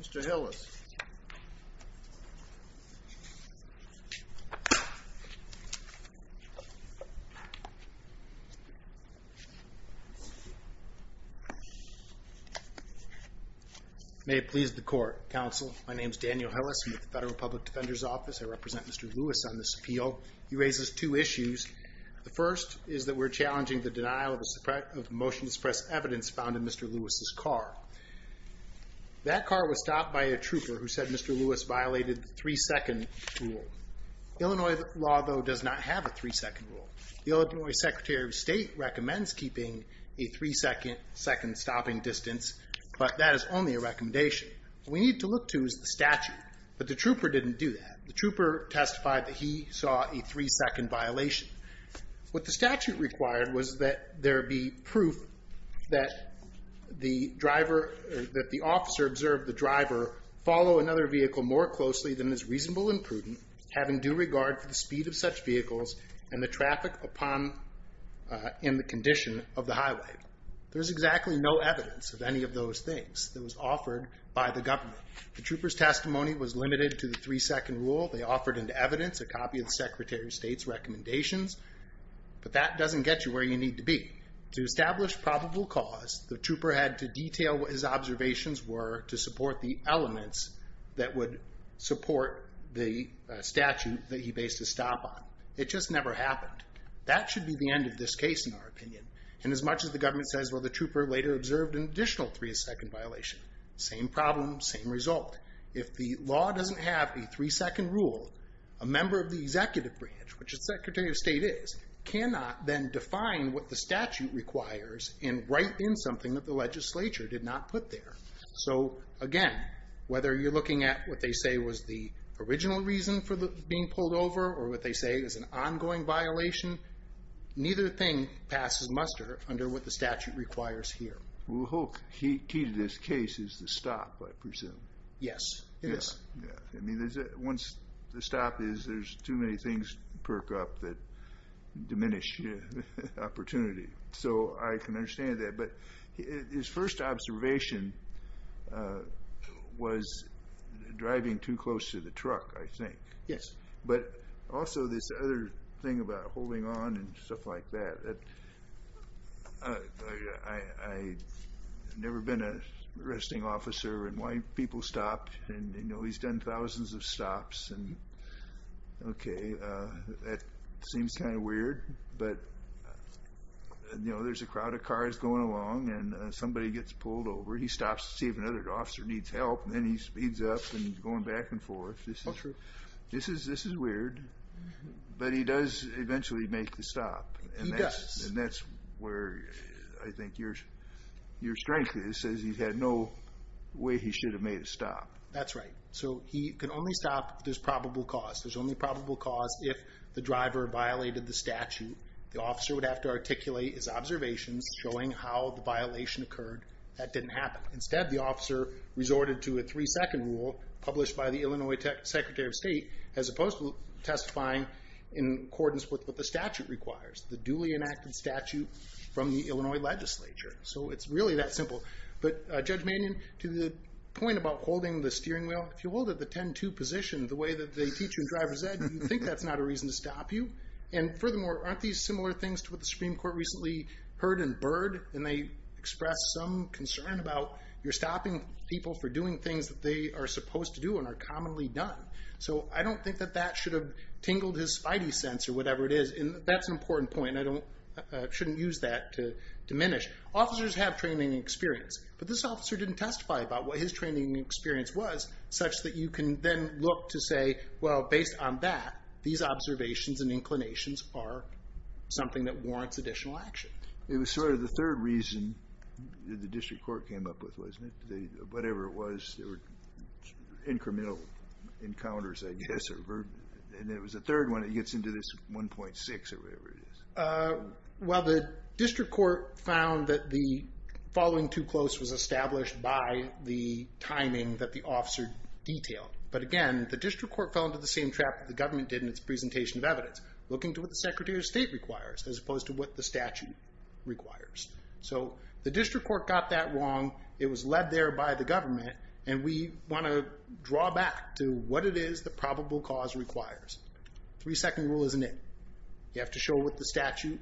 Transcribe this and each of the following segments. Mr. Hillis, may it please the court, counsel. My name is Daniel Hillis. I'm with the Federal Public Defender's Office. I represent Mr. Lewis on this appeal. He raises two issues. The first is that we're challenging the denial of the motion to suppress evidence found in Mr. Lewis's car. That car was stopped by a trooper who said Mr. Lewis violated the three-second rule. Illinois law, though, does not have a three-second rule. The Illinois Secretary of State recommends keeping a three-second stopping distance, but that is only a recommendation. What we need to look to is the statute, but the trooper didn't do that. The trooper testified that he saw a three-second violation. What the statute required was that there be proof that the driver, that the officer observed the driver follow another vehicle more closely than is reasonable and prudent, having due regard for the speed of such vehicles and the traffic upon, in the condition of the highway. There's exactly no evidence of any of those things that was offered by the government. The trooper's testimony was based on recommendations, but that doesn't get you where you need to be. To establish probable cause, the trooper had to detail what his observations were to support the elements that would support the statute that he based his stop on. It just never happened. That should be the end of this case, in our opinion. And as much as the government says, well, the trooper later observed an additional three-second violation, same problem, same result. If the law doesn't have a three-second rule, a member of the executive branch, which the Secretary of State is, cannot then define what the statute requires and write in something that the legislature did not put there. So, again, whether you're looking at what they say was the original reason for being pulled over or what they say is an ongoing violation, neither thing passes muster under what the statute requires here. Well, the whole key to this case is the stop, I presume. Yes, it is. Yeah. I mean, once the stop is, there's too many things to perk up that diminish opportunity. So I can understand that. But his first observation was driving too close to the truck, I think. Yes. But also this other thing about holding on and stuff like that. I've never been an arresting officer and why people stop. And, you know, he's done thousands of stops. And, okay, that seems kind of weird. But, you know, there's a crowd of cars going along, and somebody gets pulled over. He stops to see if another officer needs help, and then he speeds up and going back and forth. Oh, true. This is weird. But he does eventually make the stop. He does. And that's where I think your strength is, is he's had no way he should have made a stop. That's right. So he can only stop if there's probable cause. There's only probable cause if the driver violated the statute. The officer would have to articulate his observations showing how the violation occurred. That didn't happen. Instead, the officer resorted to a three second rule published by the Illinois Secretary of State, as opposed to testifying in accordance with what the statute requires, the duly enacted statute from the Illinois legislature. So it's really that simple. But Judge Manion, to the point about holding the steering wheel, if you hold it the 10-2 position, the way that they teach you in driver's ed, do you think that's not a reason to stop you? And furthermore, aren't these similar things to what the Supreme Court recently heard in Byrd? And they expressed some concern about you're responsible for doing things that they are supposed to do and are commonly done. So I don't think that that should have tingled his spidey sense or whatever it is. That's an important point. I shouldn't use that to diminish. Officers have training and experience. But this officer didn't testify about what his training and experience was, such that you can then look to say, well, based on that, these observations and inclinations are something that warrants additional action. It was sort of the third reason the district court came up with, wasn't it? Whatever it was, there were incremental encounters, I guess. And there was a third one that gets into this 1.6 or whatever it is. Well, the district court found that the following too close was established by the timing that the officer detailed. But again, the district court fell into the same trap that the government did in its presentation of evidence, looking to what the Secretary of State requires as opposed to what the statute requires. So the district court got that wrong. It was led there by the government. And we want to draw back to what it is the probable cause requires. Three-second rule isn't it. You have to show what the statute,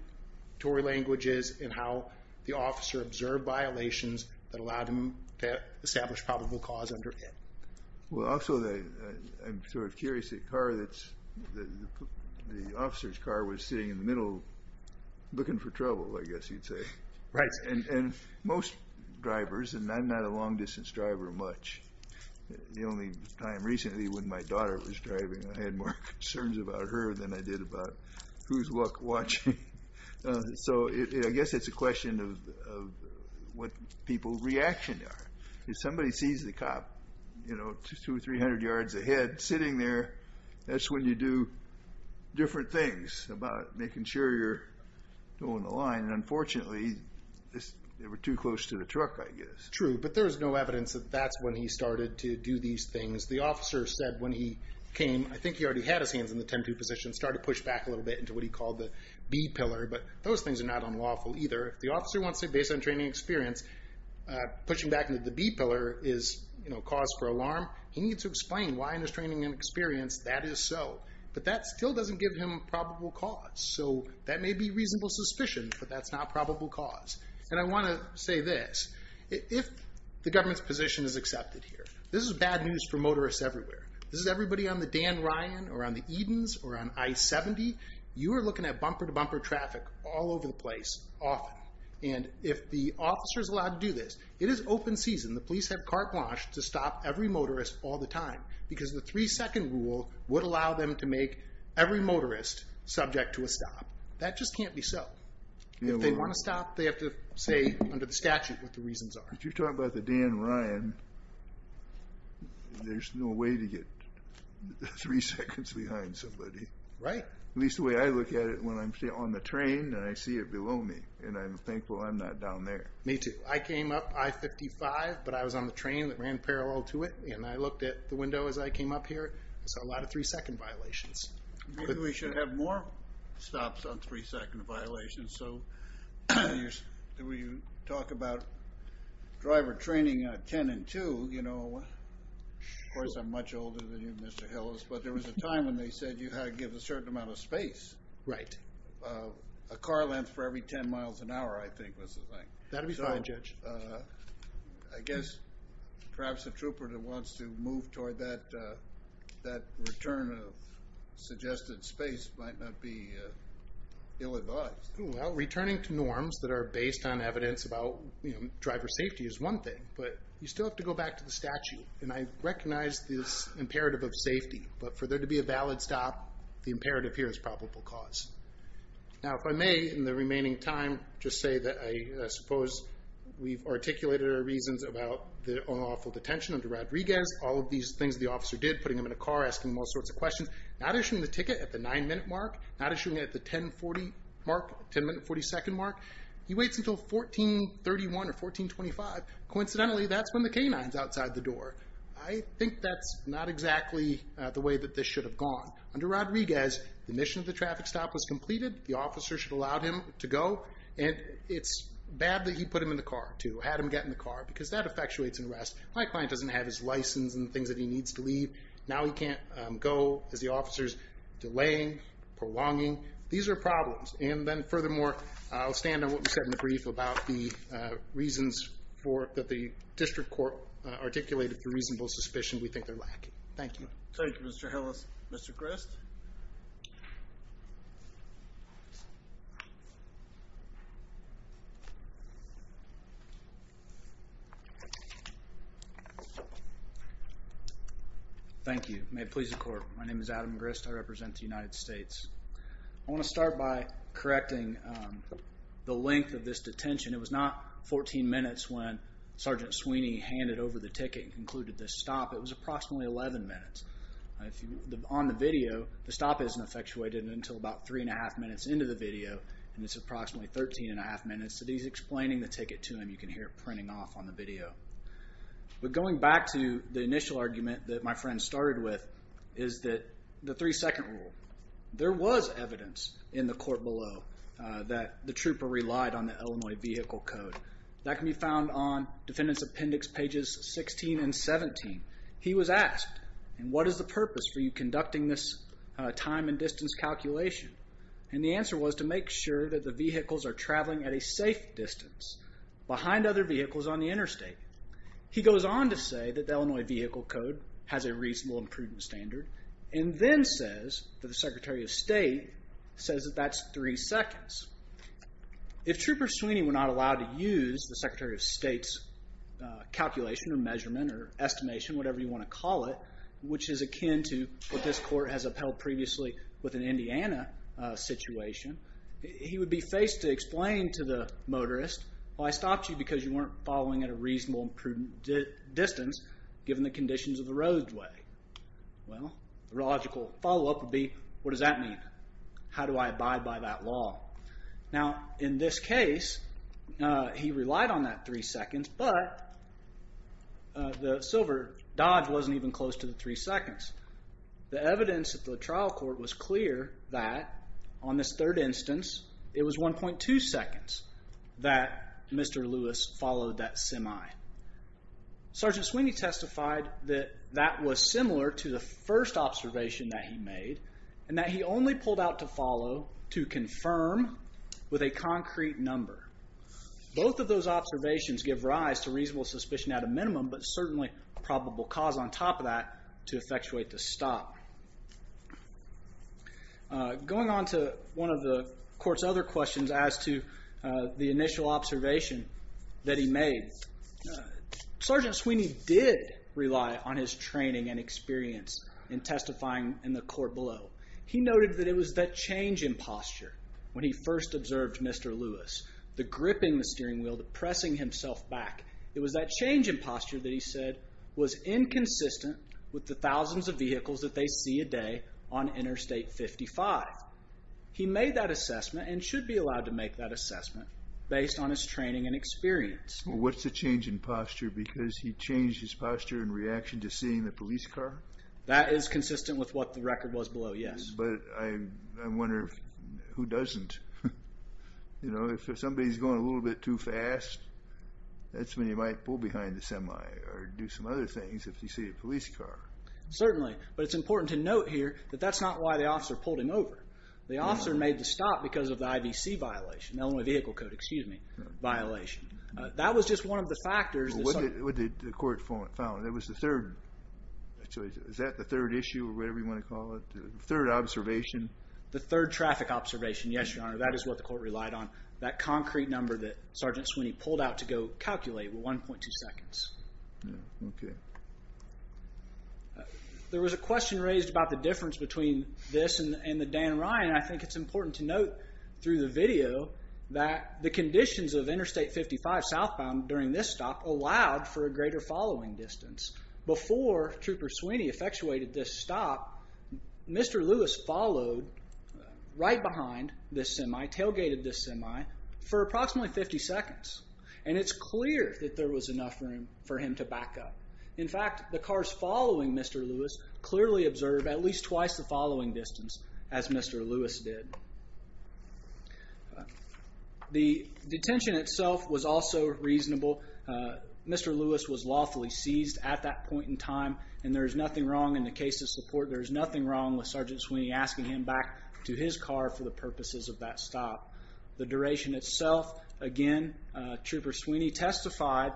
Tory language is, and how the officer observed violations that allowed him to establish probable cause under it. Well, also, I'm sort of curious, the officer's car was sitting in the middle looking for trouble, I guess you'd say. Right. And most drivers, and I'm not a long-distance driver much, the only time recently when my daughter was driving, I had more concerns about her than I did about who's watching. So I guess it's a question of what people's reactions are. If somebody sees the cop, you know, two or three hundred yards ahead sitting there, that's when you do different things about making sure you're on the line. And unfortunately, they were too close to the truck, I guess. True. But there's no evidence that that's when he started to do these things. The officer said when he came, I think he already had his hands in the 10-2 position, started to push back a little bit into what he called the B pillar. But those things are not unlawful either. If the officer wants to say based on training experience, pushing back into the B pillar is, you know, cause for alarm, he needs to explain why in his training and experience that is so. But that still doesn't give him probable cause. So that may be reasonable suspicion, but that's not probable cause. And I want to say this, if the government's position is accepted here, this is bad news for motorists everywhere. This is everybody on the Dan Ryan or on the Edens or on I-70. You are looking at bumper-to-bumper traffic all over the place, often. And if the officer's allowed to do this, it is open season. The police have carte blanche to stop every motorist all the time. Because the three-second rule would allow them to make every motorist subject to a stop. That just can't be so. If they want to stop, they have to say under the statute what the reasons are. But you're talking about the Dan Ryan. There's no way to get three seconds behind somebody. Right. At least the way I look at it when I'm on the train and I see it below me. And I'm thankful I'm not down there. Me too. I came up I-55, but I was on the train that ran parallel to it. And I looked at the window as I came up here. I saw a lot of three-second violations. Maybe we should have more stops on three-second violations. So when you talk about driver training at 10 and 2, you know, of course I'm much older than you, Mr. Hillis. But there was a time when they said you had to give a certain amount of space. Right. A car length for every 10 miles an hour, I think, was the thing. That would be fine, Judge. I guess perhaps a trooper that wants to move toward that return of suggested space might not be ill-advised. Well, returning to norms that are based on evidence about driver safety is one thing. But you still have to go back to the statute. And I recognize this imperative of safety. But for there to be a valid stop, the imperative here is probable cause. Now, if I may, in the remaining time, just say that I suppose we've articulated our reasons about the unlawful detention of Rodriguez. All of these things the officer did, putting him in a car, asking him all sorts of questions. Not issuing the ticket at the 9-minute mark. Not issuing it at the 10-minute, 40-second mark. He waits until 1431 or 1425. Coincidentally, that's when the canine's outside the door. I think that's not exactly the way that this should have gone. Under Rodriguez, the mission of the traffic stop was completed. The officer should have allowed him to go. And it's bad that he put him in the car, too. Had him get in the car, because that effectuates an arrest. My client doesn't have his license and things that he needs to leave. Now he can't go, as the officer's delaying, prolonging. These are problems. And then furthermore, I'll stand on what we said in the brief about the reasons that the district court articulated for reasonable suspicion. We think they're lacking. Thank you. Thank you, Mr. Hillis. Mr. Grist? Thank you. May it please the court. My name is Adam Grist. I represent the United States. I want to start by correcting the length of this detention. It was not 14 minutes when Sgt. Sweeney handed over the ticket and concluded this stop. It was approximately 11 minutes. On the video, the stop isn't effectuated until about 3 1⁄2 minutes into the video. And it's approximately 13 1⁄2 minutes that he's explaining the ticket to him. You can hear it printing off on the video. But going back to the initial argument that my friend started with is that the three-second rule. There was evidence in the court below that the trooper relied on the Illinois Vehicle Code. That can be found on Defendant's Appendix pages 16 and 17. He was asked, and what is the purpose for you conducting this time and distance calculation? And the answer was to make sure that the vehicles are traveling at a safe distance behind other vehicles on the interstate. He goes on to say that the Illinois Vehicle Code has a reasonable and prudent standard and then says that the Secretary of State says that that's three seconds. If Trooper Sweeney were not allowed to use the Secretary of State's calculation or measurement or estimation, whatever you want to call it, which is akin to what this court has upheld previously with an Indiana situation, he would be faced to explain to the motorist, well, I stopped you because you weren't following at a reasonable and prudent distance given the conditions of the roadway. Well, the logical follow-up would be, what does that mean? How do I abide by that law? Now, in this case, he relied on that three seconds, but the silver dodge wasn't even close to the three seconds. The evidence at the trial court was clear that on this third instance, it was 1.2 seconds that Mr. Lewis followed that semi. Sergeant Sweeney testified that that was similar to the first observation that he made and that he only pulled out to follow to confirm with a concrete number. Both of those observations give rise to reasonable suspicion at a minimum, but certainly probable cause on top of that to effectuate the stop. Going on to one of the court's other questions as to the initial observation that he made, Sergeant Sweeney did rely on his training and experience in testifying in the court below. He noted that it was that change in posture when he first observed Mr. Lewis, the gripping the steering wheel, the pressing himself back. It was that change in posture that he said was inconsistent with the thousands of vehicles that they see a day on Interstate 55. He made that assessment and should be allowed to make that assessment based on his training and experience. Well, what's the change in posture? Because he changed his posture in reaction to seeing the police car? That is consistent with what the record was below, yes. But I wonder who doesn't? You know, if somebody's going a little bit too fast, that's when you might pull behind the semi or do some other things if you see a police car. Certainly. But it's important to note here that that's not why the officer pulled him over. The officer made the stop because of the IVC violation, Illinois Vehicle Code, excuse me, violation. That was just one of the factors. What did the court found? It was the third. Is that the third issue or whatever you want to call it? The third observation? The third traffic observation, yes, Your Honor. That is what the court relied on, that concrete number that Sergeant Sweeney pulled out to go calculate with 1.2 seconds. Yeah, okay. There was a question raised about the difference between this and the Dan Ryan. I think it's important to note through the video that the conditions of Interstate 55 southbound during this stop allowed for a greater following distance. Before Trooper Sweeney effectuated this stop, Mr. Lewis followed right behind this semi, tailgated this semi for approximately 50 seconds. And it's clear that there was enough room for him to back up. In fact, the cars following Mr. Lewis clearly observed at least twice the following distance as Mr. Lewis did. The detention itself was also reasonable. Mr. Lewis was lawfully seized at that point in time and there is nothing wrong in the case of support. There is nothing wrong with Sergeant Sweeney asking him back to his car for the purposes of that stop. The duration itself, again, Trooper Sweeney testified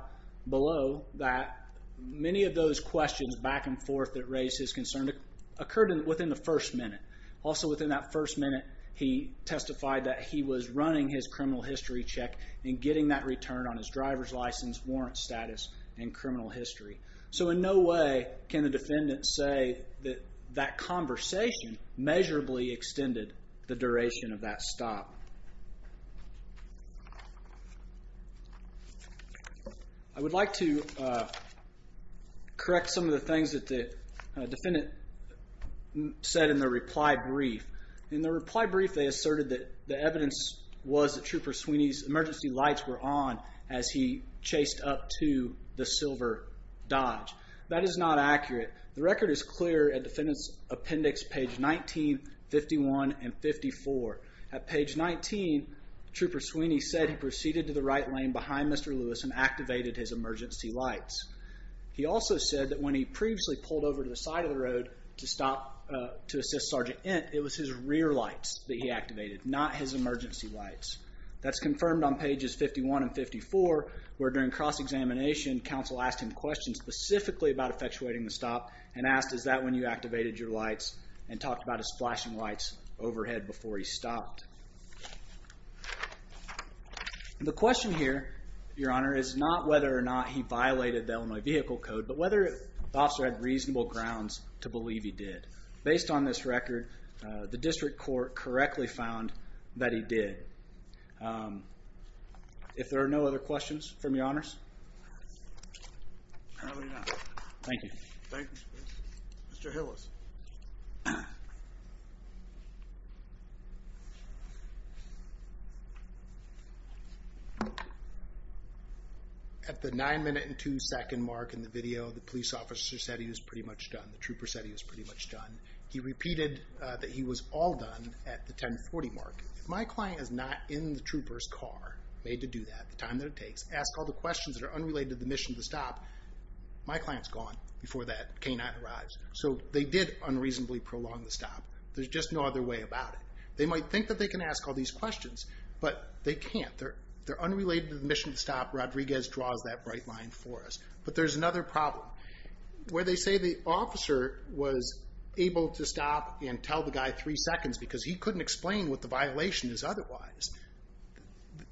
below that many of those questions back and forth that raised his concern occurred within the first minute. Also within that first minute, he testified that he was running his criminal history check and getting that return on his driver's license, warrant status, and criminal history. So in no way can the defendant say that that conversation measurably extended the duration of that stop. I would like to correct some of the things that the defendant said in the reply brief. In the reply brief, they asserted that the evidence was that Trooper Sweeney's emergency lights were on as he chased up to the Silver Dodge. That is not accurate. The record is clear at defendant's appendix page 19, 51, and 54. At page 19, Trooper Sweeney said he proceeded to the right lane behind Mr. Lewis and activated his emergency lights. He also said that when he previously pulled over to the side of the road to assist Sergeant Ent, it was his rear lights that he activated, not his emergency lights. That's confirmed on pages 51 and 54, where during cross-examination counsel asked him questions specifically about effectuating the stop and asked, is that when you activated your lights? And talked about his flashing lights overhead before he stopped. The question here, Your Honor, is not whether or not he violated the Illinois Vehicle Code, but whether the officer had reasonable grounds to believe he did. Based on this record, the district court correctly found that he did. If there are no other questions from Your Honors? Probably not. Thank you. Thank you. Mr. Hillis. At the nine minute and two second mark in the video, the police officer said he was pretty much done. The trooper said he was pretty much done. He repeated that he was all done at the 1040 mark. If my client is not in the trooper's car, made to do that, the time that it takes, asked all the questions that are unrelated to the mission to stop, my client's gone before that canine arrives. So they did unreasonably prolong the stop. There's just no other way about it. They might think that they can ask all these questions, but they can't. They're unrelated to the mission to stop. Rodriguez draws that bright line for us. But there's another problem. Where they say the officer was able to stop and tell the guy three seconds because he couldn't explain what the violation is otherwise.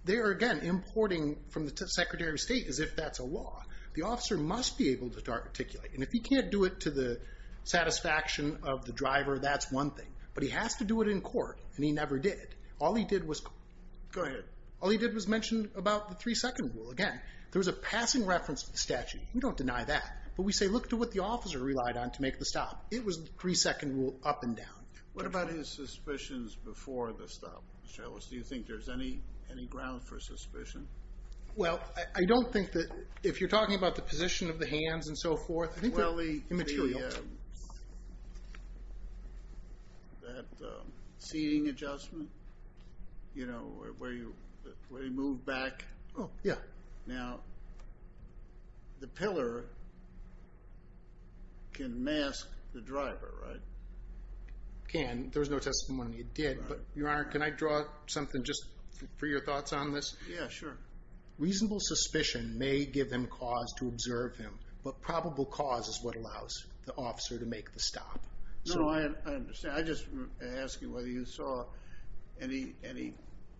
There again, importing from the Secretary of State as if that's a law. The officer must be able to articulate. And if he can't do it to the satisfaction of the driver, that's one thing. But he has to do it in court. And he never did. All he did was... Go ahead. All he did was mention about the three second rule again. There was a passing reference to the statute. We don't deny that. But we say, look at what the officer relied on to make the stop. It was the three second rule up and down. What about his suspicions before the stop, Mr. Ellis? Do you think there's any ground for suspicion? Well, I don't think that... If you're talking about the position of the hands and so forth, I think they're immaterial. That seating adjustment? You know, where he moved back? Oh, yeah. Right. Now, the pillar can mask the driver, right? It can. There's no testimony it did. But, Your Honor, can I draw something just for your thoughts on this? Yeah, sure. Reasonable suspicion may give him cause to observe him. But probable cause is what allows the officer to make the stop. No, I understand. I just ask you whether you saw any...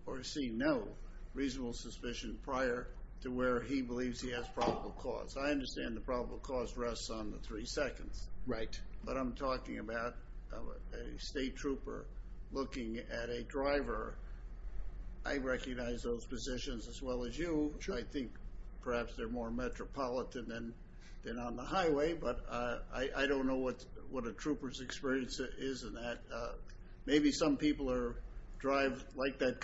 Or seen no reasonable suspicion prior to where he believes he has probable cause. I understand the probable cause rests on the three seconds. Right. But I'm talking about a state trooper looking at a driver. I recognize those positions as well as you. Sure. I think perhaps they're more metropolitan than on the highway. But I don't know what a trooper's experience is in that. Maybe some people drive like that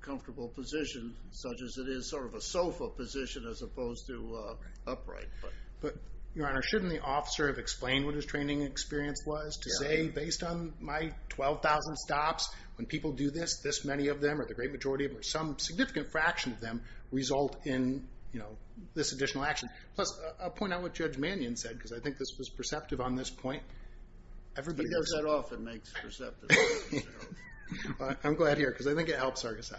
comfortable position, such as it is sort of a sofa position as opposed to upright. But, Your Honor, shouldn't the officer have explained what his training experience was to say, based on my 12,000 stops, when people do this, this many of them or the great majority of them or some significant fraction of them result in, you know, this additional action? Plus, I'll point out what Judge Mannion said because I think this was perceptive on this point. If you get that off, it makes perceptive. I'm glad to hear it because I think it helps, Argosy.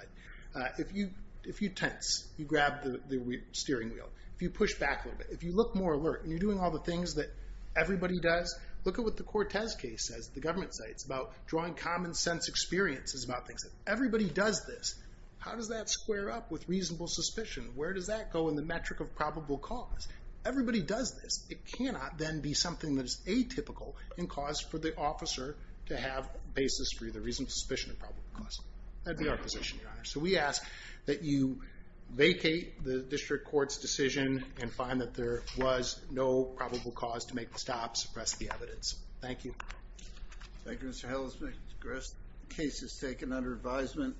If you tense, you grab the steering wheel. If you push back a little bit, if you look more alert and you're doing all the things that everybody does, look at what the Cortez case says, the government sites, about drawing common sense experiences about things. Everybody does this. How does that square up with reasonable suspicion? Where does that go in the metric of probable cause? Everybody does this. It cannot then be something that is atypical in cause for the officer to have basis for either reasonable suspicion or probable cause. That'd be our position, Your Honor. So we ask that you vacate the district court's decision and find that there was no probable cause to make the stop, suppress the evidence. Thank you. Thank you, Mr. Hellisman. The case is taken under advisement.